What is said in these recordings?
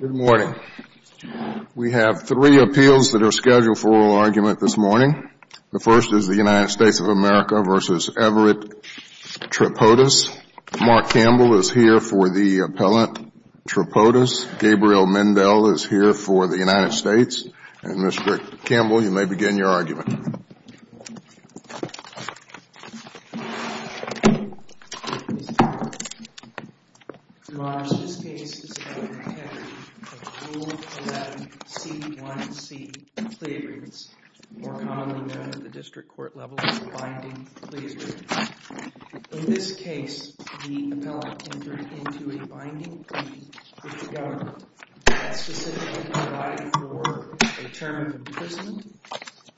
Good morning. We have three appeals that are scheduled for oral argument this morning. The first is the United States of America v. Everett Tripodis. Mark Campbell is here for the appellant Tripodis. Gabriel Mendel is here for the United States. And, Mr. Rick Tripodis. Your Honor, this case is about the category of Rule 11 C.1.C. plea agreements, more commonly known at the district court level as binding plea agreements. In this case, the appellant entered into a binding plea with the government that specifically provided for a term of imprisonment,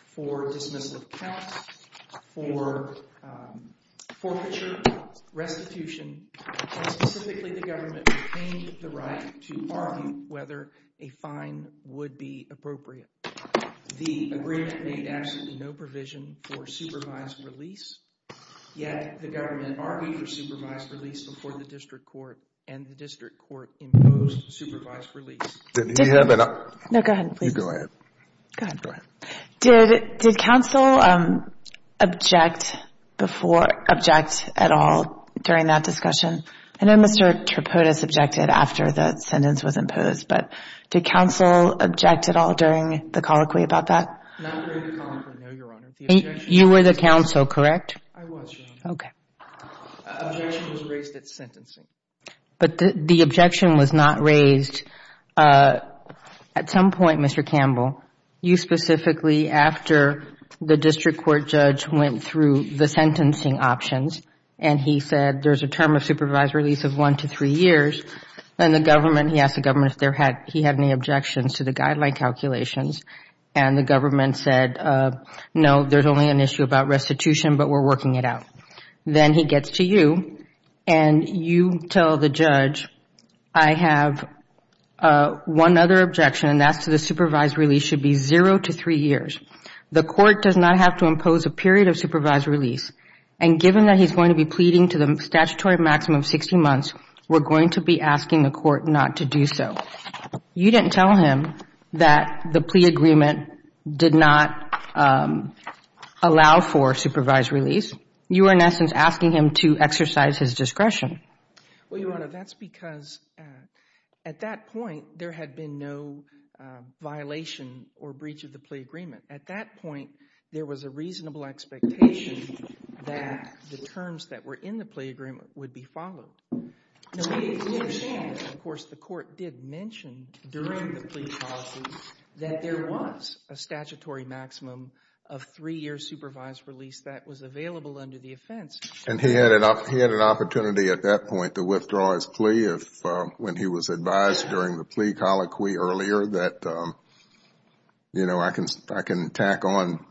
for dismissal of counts, for forfeiture, restitution, and specifically the government obtained the right to argue whether a fine would be appropriate. The agreement made absolutely no provision for supervised release, yet the government argued for supervised release before the district court, and the district court imposed supervised release. Did he have an No, go ahead, please. You go ahead. Go ahead. Go ahead. Did counsel object before, object at all during that discussion? I know Mr. Tripodis objected after the sentence was imposed, but did counsel object at all during the colloquy about that? Not during the conference, no, Your Honor. You were the counsel, correct? I was, Your Honor. Okay. Objection was raised at sentencing. The objection was not raised at some point, Mr. Campbell, you specifically after the district court judge went through the sentencing options and he said there is a term of supervised release of one to three years, and he asked the government if he had any objections to the guideline calculations, and the government said, no, there is only an issue about restitution, but we are working it out. Then he gets to you, and you tell the judge, I have one other objection, and that's to the supervised release should be zero to three years. The court does not have to impose a period of supervised release, and given that he's going to be pleading to the statutory maximum of sixty months, we're going to be asking the court not to do so. You didn't tell him that the plea agreement did not allow for supervised release. You were, in essence, asking him to exercise his discretion. Well, Your Honor, that's because at that point, there had been no violation or breach of the plea agreement. At that point, there was a reasonable expectation that the terms that were in the plea agreement would be followed. Now, we understand, of course, the court did mention during the plea policy that there was a statutory maximum of three years supervised release that was available under the offense. And he had an opportunity at that point to withdraw his plea when he was advised during the plea colloquy earlier that, you know, I can tack on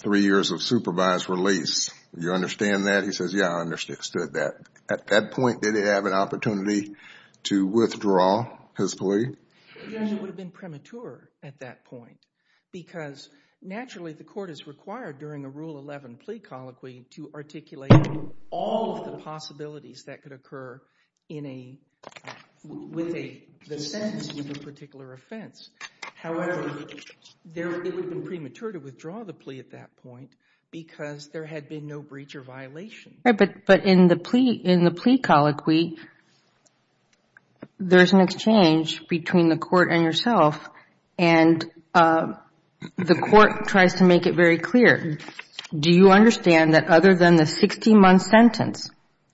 three years of supervised release. Do you understand that? He says, yeah, I understood that. At that point, did he have an opportunity to withdraw his plea? Your Honor, it would have been premature at that point because, naturally, the court is required during a Rule 11 plea colloquy to articulate all of the possibilities that could occur in a – with a – the sentence with a particular offense. However, it would have been premature to withdraw the plea at that point because there had been no breach or violation. Right. But in the plea – in the plea colloquy, there is an exchange between the court and yourself. And the court tries to make it very clear, do you understand that other than the 60-month sentence,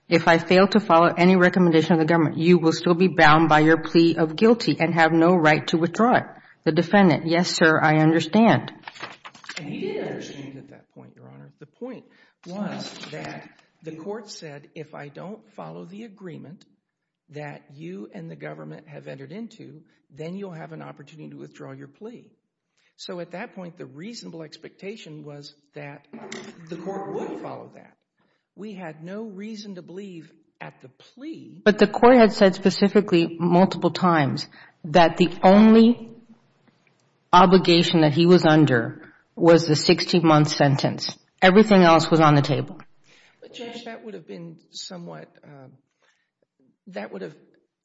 if I fail to follow any recommendation of the government, you will still be bound by your plea of guilty and have no right to withdraw it? The defendant, yes, sir, I understand. He did understand at that point, Your Honor. The point was that the court said, if I don't follow the agreement that you and the government have entered into, then you'll have an opportunity to withdraw your plea. So at that point, the reasonable expectation was that the court would follow that. We had no reason to believe at the plea – But the court had said specifically multiple times that the only obligation that he was under was the 60-month sentence. Everything else was on the table. But, Judge, that would have been somewhat – that would have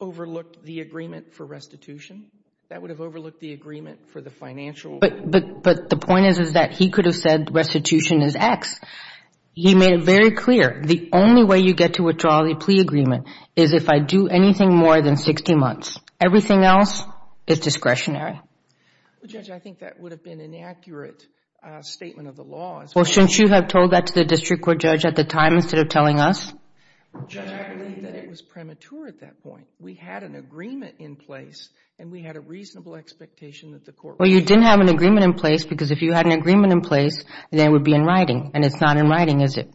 overlooked the agreement for restitution. That would have overlooked the agreement for the financial – But the point is, is that he could have said restitution is X. He made it very clear, the only way you get to withdraw the plea agreement is if I do anything more than 60 months. Everything else is discretionary. Judge, I think that would have been an accurate statement of the law. Well, shouldn't you have told that to the district court judge at the time instead of telling us? Judge, I believe that it was premature at that point. We had an agreement in place, and we had a reasonable expectation that the court – Well, you didn't have an agreement in place, because if you had an agreement in place, then it would be in writing. And it's not in writing, is it?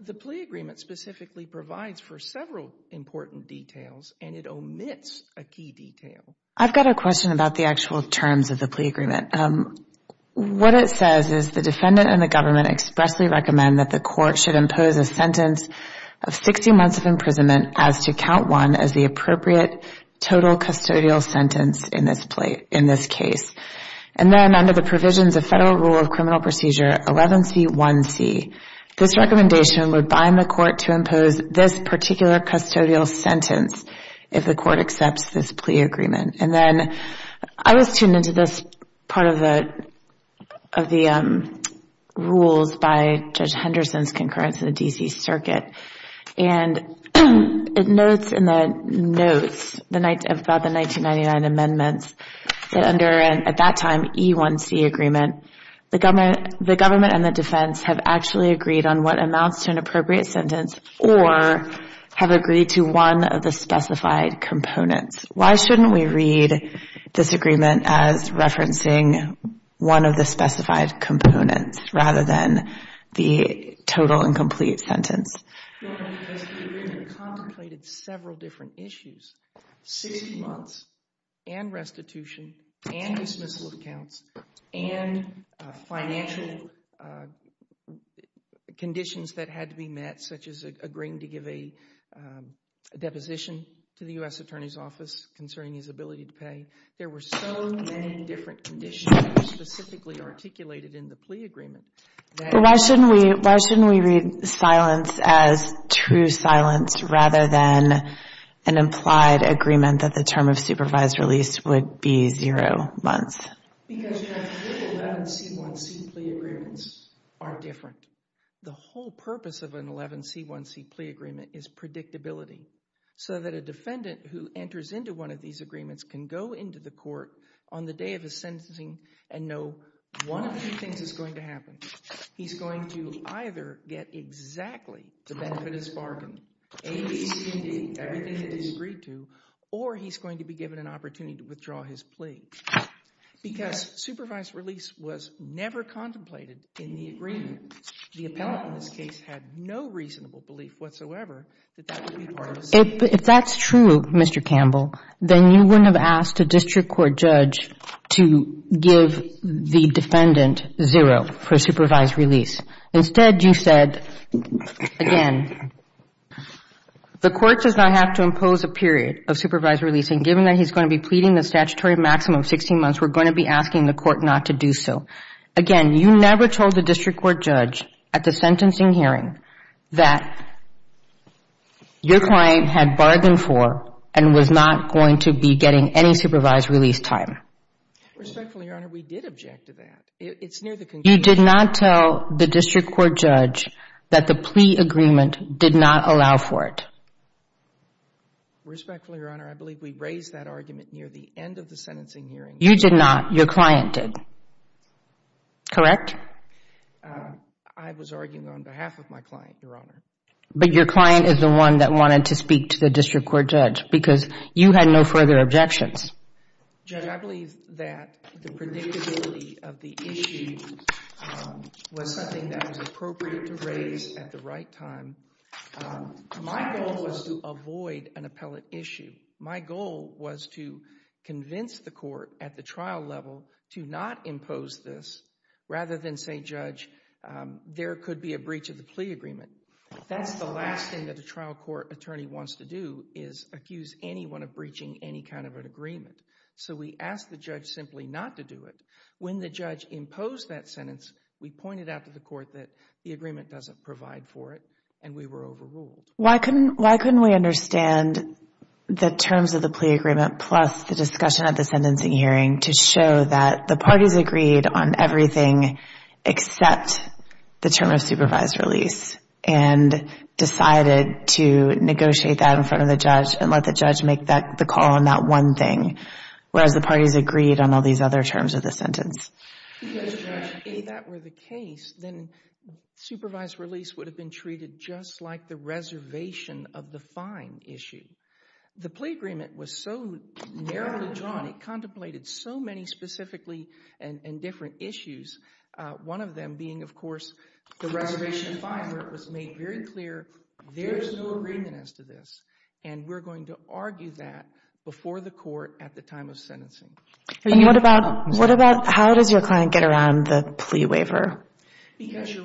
The plea agreement specifically provides for several important details, and it omits a key detail. I've got a question about the actual terms of the plea agreement. What it says is the defendant and the government expressly recommend that the court should impose a sentence of 60 months of imprisonment as to count one as the appropriate total custodial sentence in this case. And then under the provisions of federal rule of criminal procedure 11C1C, this recommendation would bind the court to impose this particular custodial sentence if the court accepts this plea agreement. And then I was tuned into this part of the rules by Judge Henderson's concurrence in the D.C. Circuit. And it notes in the notes about the 1999 amendments that under, at that time, E1C agreement, the government and the defense have actually agreed on what one of the specified components. Why shouldn't we read this agreement as referencing one of the specified components rather than the total and complete sentence? Because the agreement contemplated several different issues, 60 months and restitution and dismissal of accounts and financial conditions that had to be met, such as agreeing to give a deposition to the U.S. Attorney's Office concerning his ability to pay. There were so many different conditions specifically articulated in the plea agreement. Why shouldn't we read silence as true silence rather than an implied agreement that the term of supervised release would be zero months? Because federal 11C1C plea agreements are different. The whole purpose of an 11C1C plea agreement is predictability so that a defendant who enters into one of these agreements can go into the court on the day of his sentencing and know one of two things is going to happen. He's going to either get exactly the benefit of his bargain, A, B, C, D, everything that he's agreed to, or he's going to be given an opportunity to withdraw his plea because supervised release was never contemplated in the case. The appellant in this case had no reasonable belief whatsoever that that would be part of his plea. If that's true, Mr. Campbell, then you wouldn't have asked a district court judge to give the defendant zero for supervised release. Instead, you said, again, the court does not have to impose a period of supervised release, and given that he's going to be pleading the statutory maximum of 16 months, we're going to be asking the court not to do so. Again, you never told the district court judge at the sentencing hearing that your client had bargained for and was not going to be getting any supervised Respectfully, Your Honor, we did object to that. It's near the conclusion. You did not tell the district court judge that the plea agreement did not allow for it. Respectfully, Your Honor, I believe we raised that argument near the end of the sentencing hearing. You did not. Your client did. Correct? I was arguing on behalf of my client, Your Honor. But your client is the one that wanted to speak to the district court judge because you had no further objections. Judge, I believe that the predictability of the issue was something that was appropriate to raise at the right time. My goal was to avoid an appellate issue. My goal was to convince the court at the trial level to not impose this rather than say, Judge, there could be a breach of the plea agreement. That's the last thing that the trial court attorney wants to do is accuse anyone of breaching any kind of an agreement. So we asked the judge simply not to do it. When the judge imposed that sentence, we pointed out to the court that the agreement doesn't provide for it and we were overruled. Why couldn't we understand the terms of the plea agreement plus the discussion at the sentencing hearing to show that the parties agreed on everything except the term of supervised release and decided to negotiate that in front of the judge and let the judge make the call on that one thing, whereas the parties agreed on all these other terms of the sentence? If that were the case, then supervised release would have been treated just like the reservation of the fine issue. The plea agreement was so narrowly drawn. It contemplated so many specifically and different issues, one of them being, of course, the reservation of fine where it was made very clear there is no agreement as to this, and we're going to argue that before the court at the time of sentencing. What about how does your client get around the plea waiver? The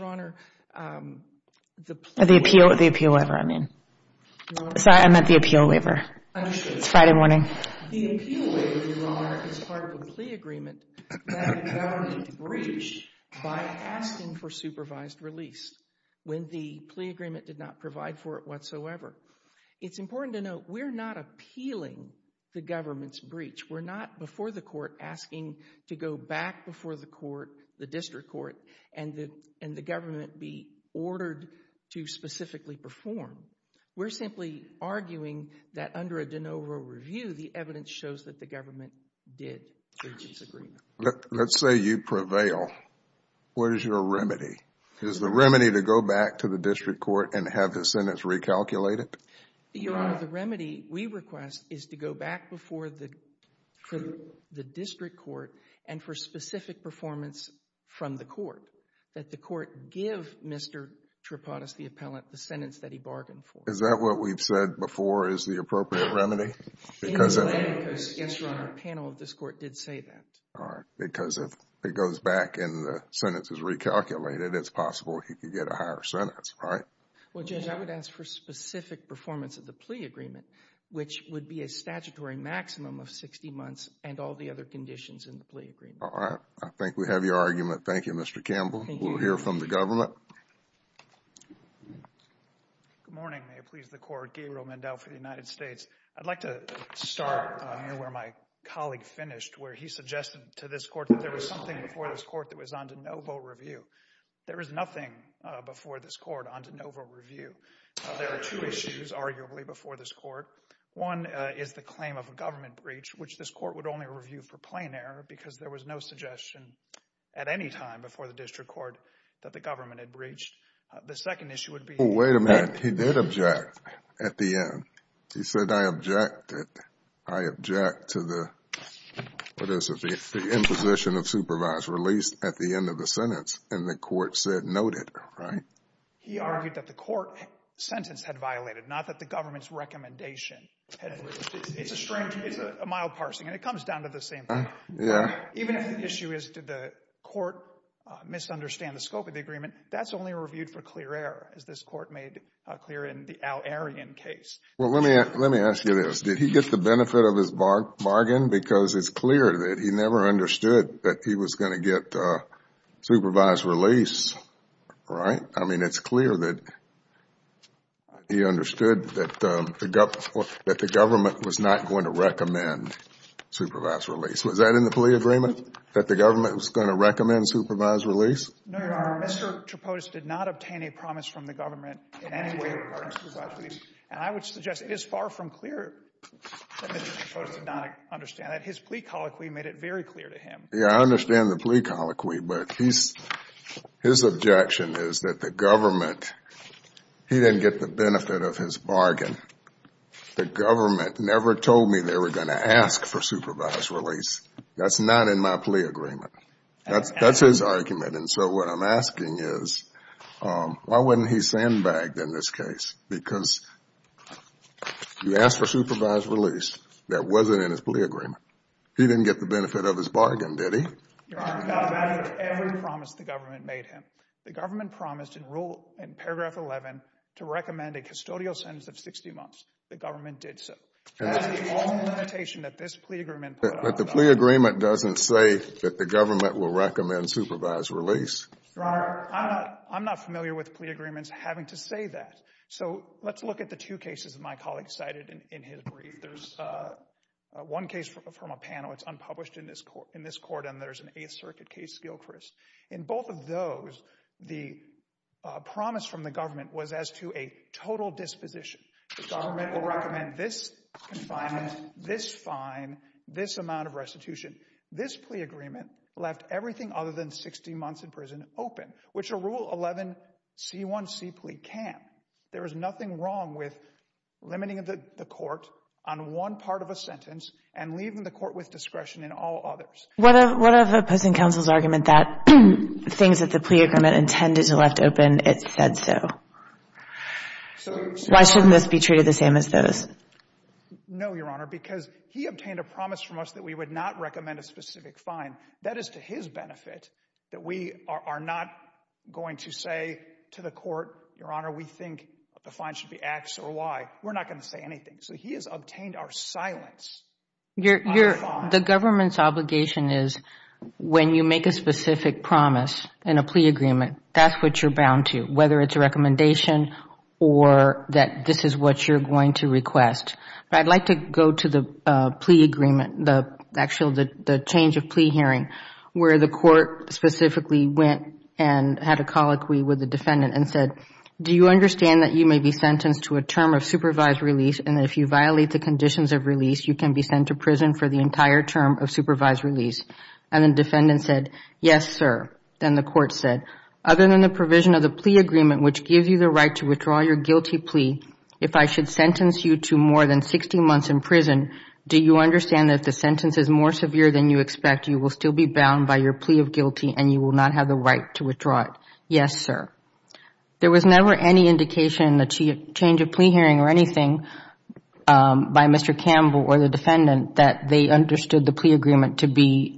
appeal waiver, I mean. I meant the appeal waiver. It's Friday morning. The appeal waiver, Your Honor, is part of the plea agreement that the government breached by asking for supervised release when the plea agreement did not provide for it whatsoever. We're not before the court asking to go back before the court, the district court, and the government be ordered to specifically perform. We're simply arguing that under a de novo review, the evidence shows that the government did breach its agreement. Let's say you prevail. What is your remedy? Is the remedy to go back to the district court and have the sentence recalculated? Your Honor, the remedy we request is to go back before the district court and for specific performance from the court, that the court give Mr. Tripodis, the appellant, the sentence that he bargained for. Is that what we've said before is the appropriate remedy? Yes, Your Honor. The panel of this court did say that. All right, because if it goes back and the sentence is recalculated, it's possible he could get a higher sentence, right? Well, Judge, I would ask for specific performance of the plea agreement, which would be a statutory maximum of 60 months and all the other conditions in the plea agreement. All right. I think we have your argument. Thank you, Mr. Campbell. We'll hear from the government. Good morning. May it please the Court. Gabriel Mendel for the United States. I'd like to start near where my colleague finished, where he suggested to this court that there was something before this court that was on de novo review. There is nothing before this court on de novo review. There are two issues, arguably, before this court. One is the claim of a government breach, which this court would only review for plain error because there was no suggestion at any time before the district court that the government had breached. The second issue would be the fact that the government had breached. Well, wait a minute. He did object at the end. He said, I objected. I object to the, what is it, the imposition of supervisory release at the end of the sentence, and the court said noted, right? He argued that the court sentence had violated, not that the government's recommendation had violated. It's a strange, it's a mild parsing, and it comes down to the same thing. Yeah. Even if the issue is did the court misunderstand the scope of the agreement, that's only reviewed for clear error, as this court made clear in the Al-Aryan case. Well, let me ask you this. Did he get the benefit of his bargain because it's clear that he never understood that he was going to get supervised release, right? I mean, it's clear that he understood that the government was not going to recommend supervised release. Was that in the plea agreement, that the government was going to recommend supervised release? No, Your Honor. Mr. Trapotas did not obtain a promise from the government in any way regarding supervised release, and I would suggest it is far from clear that Mr. Trapotas did not understand that. His plea colloquy made it very clear to him. Yeah, I understand the plea colloquy, but his objection is that the government he didn't get the benefit of his bargain. The government never told me they were going to ask for supervised release. That's not in my plea agreement. That's his argument. And so what I'm asking is why wouldn't he sandbag in this case? Because you asked for supervised release. That wasn't in his plea agreement. He didn't get the benefit of his bargain, did he? Your Honor, that is every promise the government made him. The government promised in paragraph 11 to recommend a custodial sentence of 60 months. The government did so. That is the only limitation that this plea agreement put up. But the plea agreement doesn't say that the government will recommend supervised release. Your Honor, I'm not familiar with plea agreements having to say that. So let's look at the two cases my colleague cited in his brief. There's one case from a panel. It's unpublished in this court, and there's an Eighth Circuit case, Gilchrist. In both of those, the promise from the government was as to a total disposition. The government will recommend this confinement, this fine, this amount of restitution. This plea agreement left everything other than 60 months in prison open, which a Rule 11 C1C plea can. There is nothing wrong with limiting the court on one part of a sentence and leaving the court with discretion in all others. What of opposing counsel's argument that things that the plea agreement intended to left open, it said so? Why shouldn't this be treated the same as those? No, Your Honor, because he obtained a promise from us that we would not recommend a specific fine. That is to his benefit that we are not going to say to the court, Your Honor, we think the fine should be X or Y. We're not going to say anything. So he has obtained our silence on the fine. The government's obligation is when you make a specific promise in a plea agreement, that's what you're bound to, whether it's a recommendation or that this is what you're going to request. I would like to go to the plea agreement, the change of plea hearing, where the court specifically went and had a colloquy with the defendant and said, do you understand that you may be sentenced to a term of supervised release and if you violate the conditions of release, you can be sent to prison for the entire term of supervised release? And the defendant said, yes, sir. Then the court said, other than the provision of the plea agreement, which gives you the right to withdraw your guilty plea, if I should sentence you to more than 60 months in prison, do you understand that if the sentence is more severe than you expect, you will still be bound by your plea of guilty and you will not have the right to withdraw it? Yes, sir. There was never any indication in the change of plea hearing or anything by Mr. Campbell or the defendant that they understood the plea agreement to be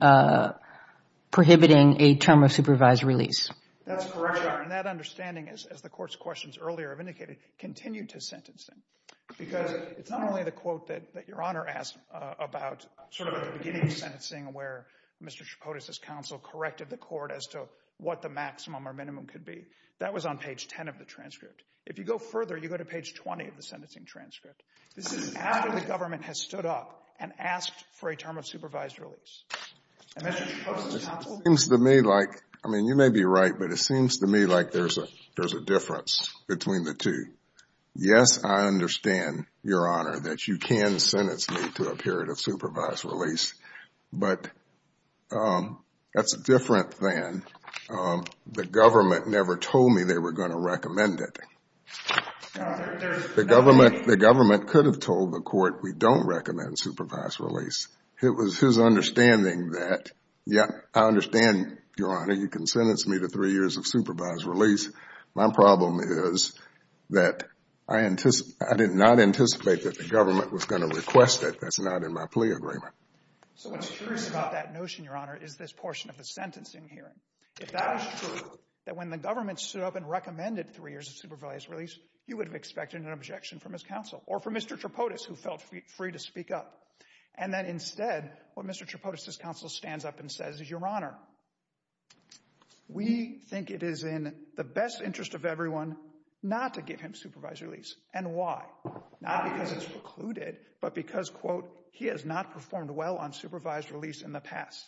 prohibiting a term of supervised release. That's correct, Your Honor. And that understanding, as the court's questions earlier have indicated, continued to sentencing because it's not only the quote that Your Honor asked about sort of at the beginning of sentencing where Mr. Chipotas' counsel corrected the court as to what the maximum or minimum could be. That was on page 10 of the transcript. If you go further, you go to page 20 of the sentencing transcript. This is after the government has stood up and asked for a term of supervised release. And Mr. Chipotas' counsel? It seems to me like, I mean, you may be right, but it seems to me like there's a difference between the two. Yes, I understand, Your Honor, that you can sentence me to a period of supervised release, but that's different than the government never told me they were going to recommend it. The government could have told the court we don't recommend supervised release. It was his understanding that, yes, I understand, Your Honor, you can sentence me to three years of supervised release. My problem is that I did not anticipate that the government was going to request it. That's not in my plea agreement. So what's true about that notion, Your Honor, is this portion of the sentencing hearing. If that is true, that when the government stood up and recommended three years of supervised release, you would have expected an objection from his counsel or from Mr. Chipotas, who felt free to speak up. And then instead, what Mr. Chipotas' counsel stands up and says is, Your Honor, we think it is in the best interest of everyone not to give him supervised release. And why? Not because it's precluded, but because, quote, he has not performed well on supervised release in the past.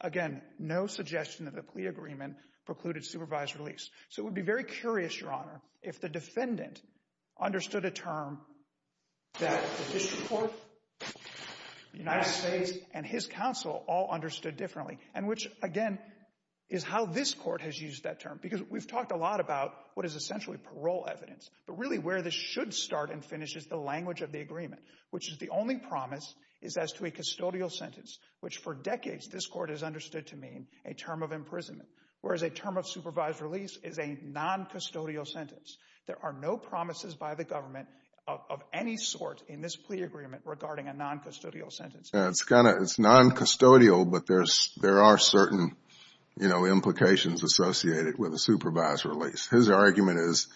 Again, no suggestion of the plea agreement precluded supervised release. So it would be very curious, Your Honor, if the defendant understood a term that the district court, the United States, and his counsel all understood differently, and which, again, is how this court has used that term, because we've talked a lot about what is essentially parole evidence, but really where this should start and finish is the language of the agreement, which is the only promise is as to a custodial sentence, which for decades this court has understood to mean a term of imprisonment, whereas a term of supervised release is a non-custodial sentence. There are no promises by the government of any sort in this plea agreement regarding a non-custodial sentence. It's non-custodial, but there are certain implications associated with a supervised release. His argument is,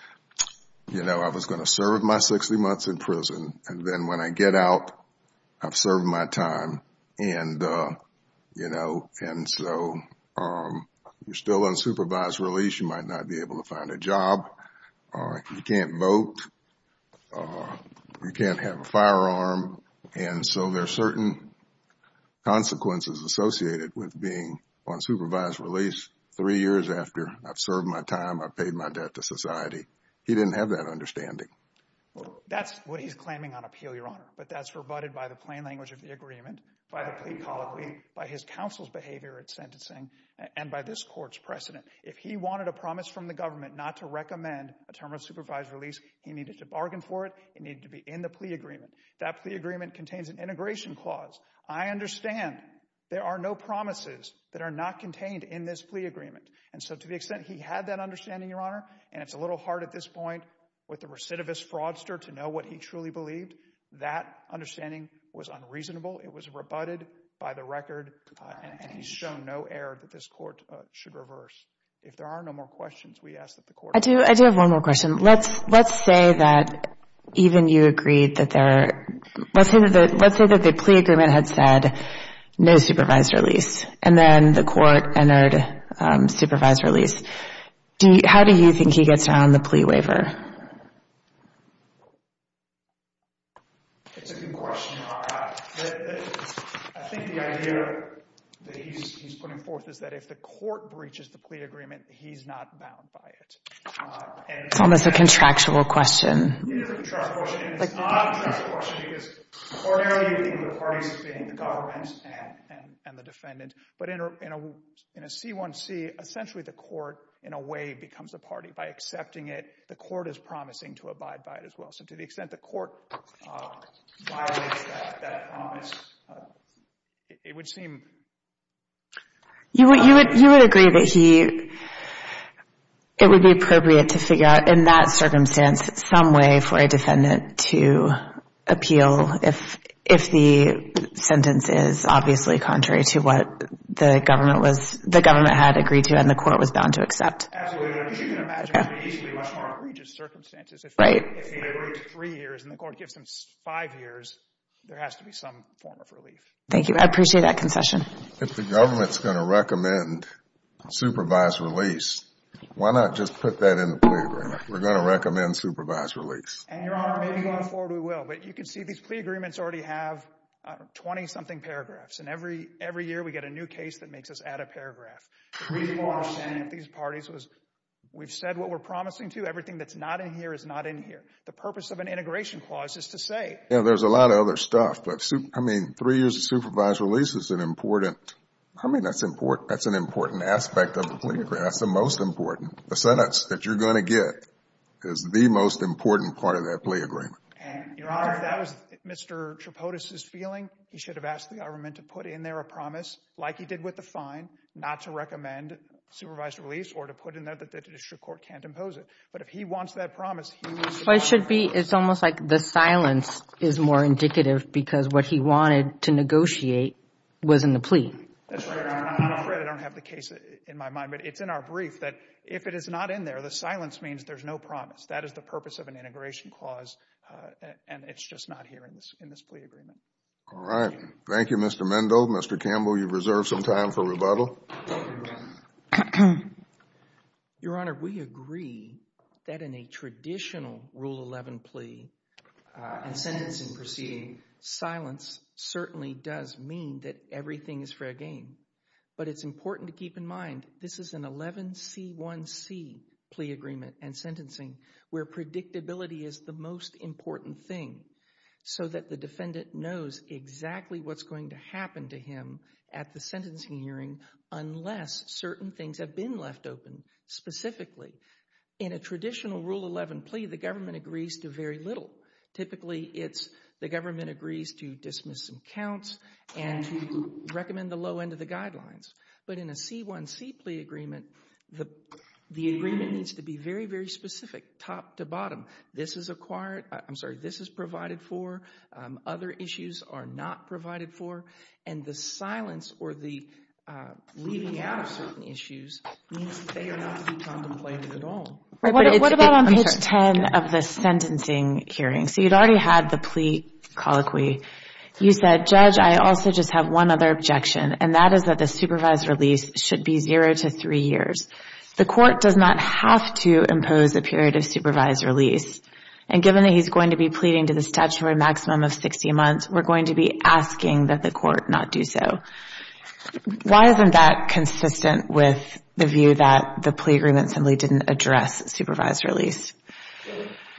you know, I was going to serve my 60 months in prison, and then when I get out, I've served my time. And, you know, and so you're still on supervised release. You might not be able to find a job. You can't vote. You can't have a firearm. And so there are certain consequences associated with being on supervised release three years after I've served my time, I've paid my debt to society. He didn't have that understanding. That's what he's claiming on appeal, Your Honor, but that's rebutted by the plain language of the agreement, by the plea colloquy, by his counsel's behavior at sentencing, and by this court's precedent. If he wanted a promise from the government not to recommend a term of supervised release, he needed to bargain for it, he needed to be in the plea agreement. That plea agreement contains an integration clause. I understand there are no promises that are not contained in this plea agreement. And so to the extent he had that understanding, Your Honor, and it's a little hard at this point with the recidivist fraudster to know what he truly believed, that understanding was unreasonable, it was rebutted by the record, and he's shown no error that this court should reverse. If there are no more questions, we ask that the court— I do have one more question. Let's say that even you agreed that there— let's say that the plea agreement had said no supervised release, and then the court entered supervised release. How do you think he gets around the plea waiver? It's a good question, Your Honor. I think the idea that he's putting forth is that if the court breaches the plea agreement, he's not bound by it. It's almost a contractual question. It is a contractual question, and it's not a contractual question because ordinarily you would think of the parties being the government and the defendant. But in a C1C, essentially the court in a way becomes a party. By accepting it, the court is promising to abide by it as well. So to the extent the court violates that promise, it would seem— You would agree that he— it would be appropriate to figure out in that circumstance some way for a defendant to appeal if the sentence is obviously contrary to what the government was— the government had agreed to and the court was bound to accept. Absolutely. I mean, you can imagine what he's doing under egregious circumstances. Right. If he agrees three years and the court gives him five years, there has to be some form of relief. Thank you. I appreciate that concession. If the government's going to recommend supervised release, why not just put that in the plea agreement? We're going to recommend supervised release. And, Your Honor, maybe going forward we will. But you can see these plea agreements already have 20-something paragraphs. And every year we get a new case that makes us add a paragraph. The reason why we're sending these parties was we've said what we're promising to. Everything that's not in here is not in here. The purpose of an integration clause is to say— Yeah, there's a lot of other stuff. But, I mean, three years of supervised release is an important— I mean, that's an important aspect of the plea agreement. That's the most important. The sentence that you're going to get is the most important part of that plea agreement. And, Your Honor, if that was Mr. Tripodis' feeling, he should have asked the government to put in there a promise, like he did with the fine, not to recommend supervised release or to put in there that the district court can't impose it. But if he wants that promise, he— It should be—it's almost like the silence is more indicative because what he wanted to negotiate was in the plea. That's right. I'm not afraid I don't have the case in my mind. But it's in our brief that if it is not in there, the silence means there's no promise. That is the purpose of an integration clause, and it's just not here in this plea agreement. All right. Thank you, Mr. Mendo. Mr. Campbell, you've reserved some time for rebuttal. Thank you, Your Honor. Your Honor, we agree that in a traditional Rule 11 plea and sentencing proceeding, silence certainly does mean that everything is fair game. But it's important to keep in mind, this is an 11C1C plea agreement and sentencing where predictability is the most important thing so that the defendant knows exactly what's going to happen to him at the sentencing hearing unless certain things have been left open specifically. In a traditional Rule 11 plea, the government agrees to very little. Typically, it's the government agrees to dismiss some counts and to recommend the low end of the guidelines. But in a C1C plea agreement, the agreement needs to be very, very specific, top to bottom. This is provided for, other issues are not provided for, and the silence or the leaving out of certain issues means that they are not to be contemplated at all. What about on page 10 of the sentencing hearing? So you'd already had the plea colloquy. You said, Judge, I also just have one other objection, and that is that the supervised release should be zero to three years. The Court does not have to impose a period of supervised release. And given that he's going to be pleading to the statutory maximum of 60 months, we're going to be asking that the Court not do so. Why isn't that consistent with the view that the plea agreement simply didn't address supervised release?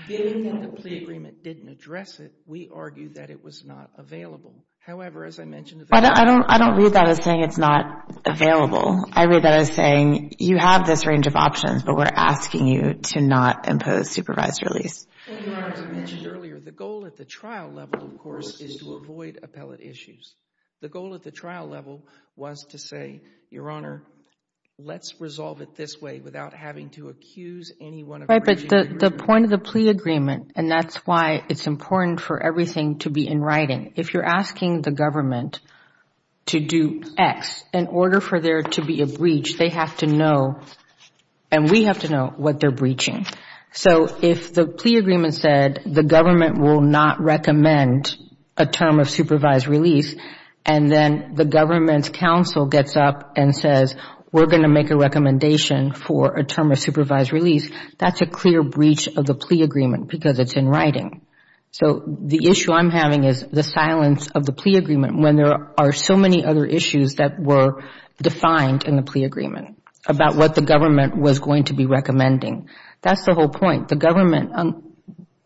Given that the plea agreement didn't address it, we argue that it was not available. I don't read that as saying it's not available. I read that as saying you have this range of options, but we're asking you to not impose supervised release. Your Honor, as I mentioned earlier, the goal at the trial level, of course, is to avoid appellate issues. The goal at the trial level was to say, Your Honor, let's resolve it this way without having to accuse anyone of breaching the agreement. Right, but the point of the plea agreement, and that's why it's important for everything to be in writing, if you're asking the government to do X, in order for there to be a breach, they have to know, and we have to know, what they're breaching. So if the plea agreement said, the government will not recommend a term of supervised release, and then the government's counsel gets up and says, we're going to make a recommendation for a term of supervised release, that's a clear breach of the plea agreement because it's in writing. So the issue I'm having is the silence of the plea agreement when there are so many other issues that were defined in the plea agreement about what the government was going to be recommending. That's the whole point. The government,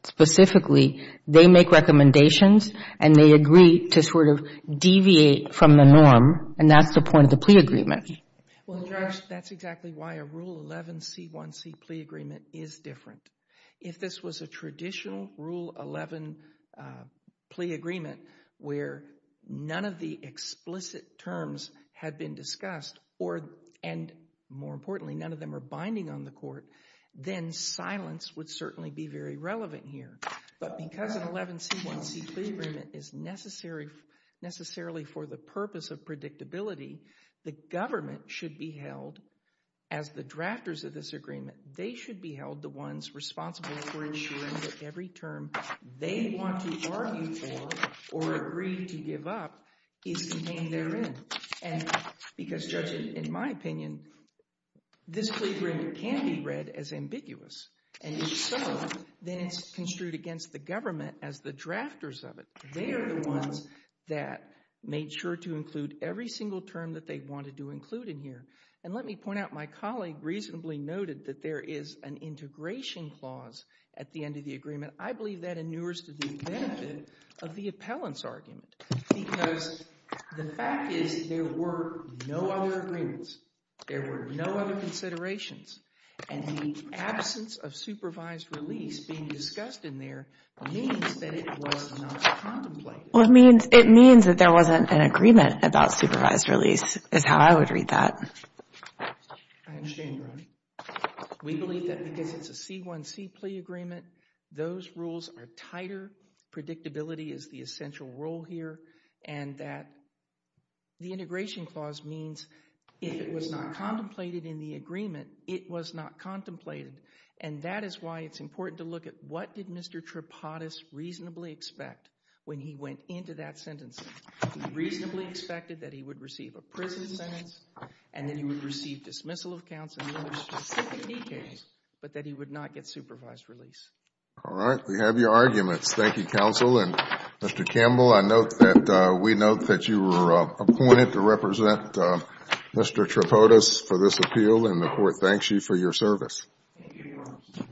specifically, they make recommendations and they agree to sort of deviate from the norm, and that's the point of the plea agreement. Well, Judge, that's exactly why a Rule 11C1C plea agreement is different. If this was a traditional Rule 11 plea agreement where none of the explicit terms had been discussed, and more importantly, none of them are binding on the court, then silence would certainly be very relevant here. But because an 11C1C plea agreement is necessarily for the purpose of predictability, the government should be held, as the drafters of this agreement, they should be held the ones responsible for ensuring that every term they want to argue for or agree to give up is contained therein. And because, Judge, in my opinion, this plea agreement can be read as ambiguous, and if so, then it's construed against the government as the drafters of it. They are the ones that made sure to include every single term that they wanted to include in here. And let me point out my colleague reasonably noted that there is an integration clause at the end of the agreement. I believe that inures to the benefit of the appellant's argument because the fact is there were no other agreements, there were no other considerations, and the absence of supervised release being discussed in there means that it was not contemplated. Well, it means that there wasn't an agreement about supervised release is how I would read that. I understand, Your Honor. We believe that because it's a C1C plea agreement, those rules are tighter. Predictability is the essential rule here, and that the integration clause means if it was not contemplated in the agreement, it was not contemplated. And that is why it's important to look at what did Mr. Tripodis reasonably expect when he went into that sentencing. He reasonably expected that he would receive a prison sentence and that he would receive dismissal of counsel and other specific details, but that he would not get supervised release. All right. We have your arguments. Thank you, counsel. And, Mr. Campbell, I note that we note that you were appointed to represent Mr. Tripodis for this appeal, and the court thanks you for your service. Thank you, Your Honor.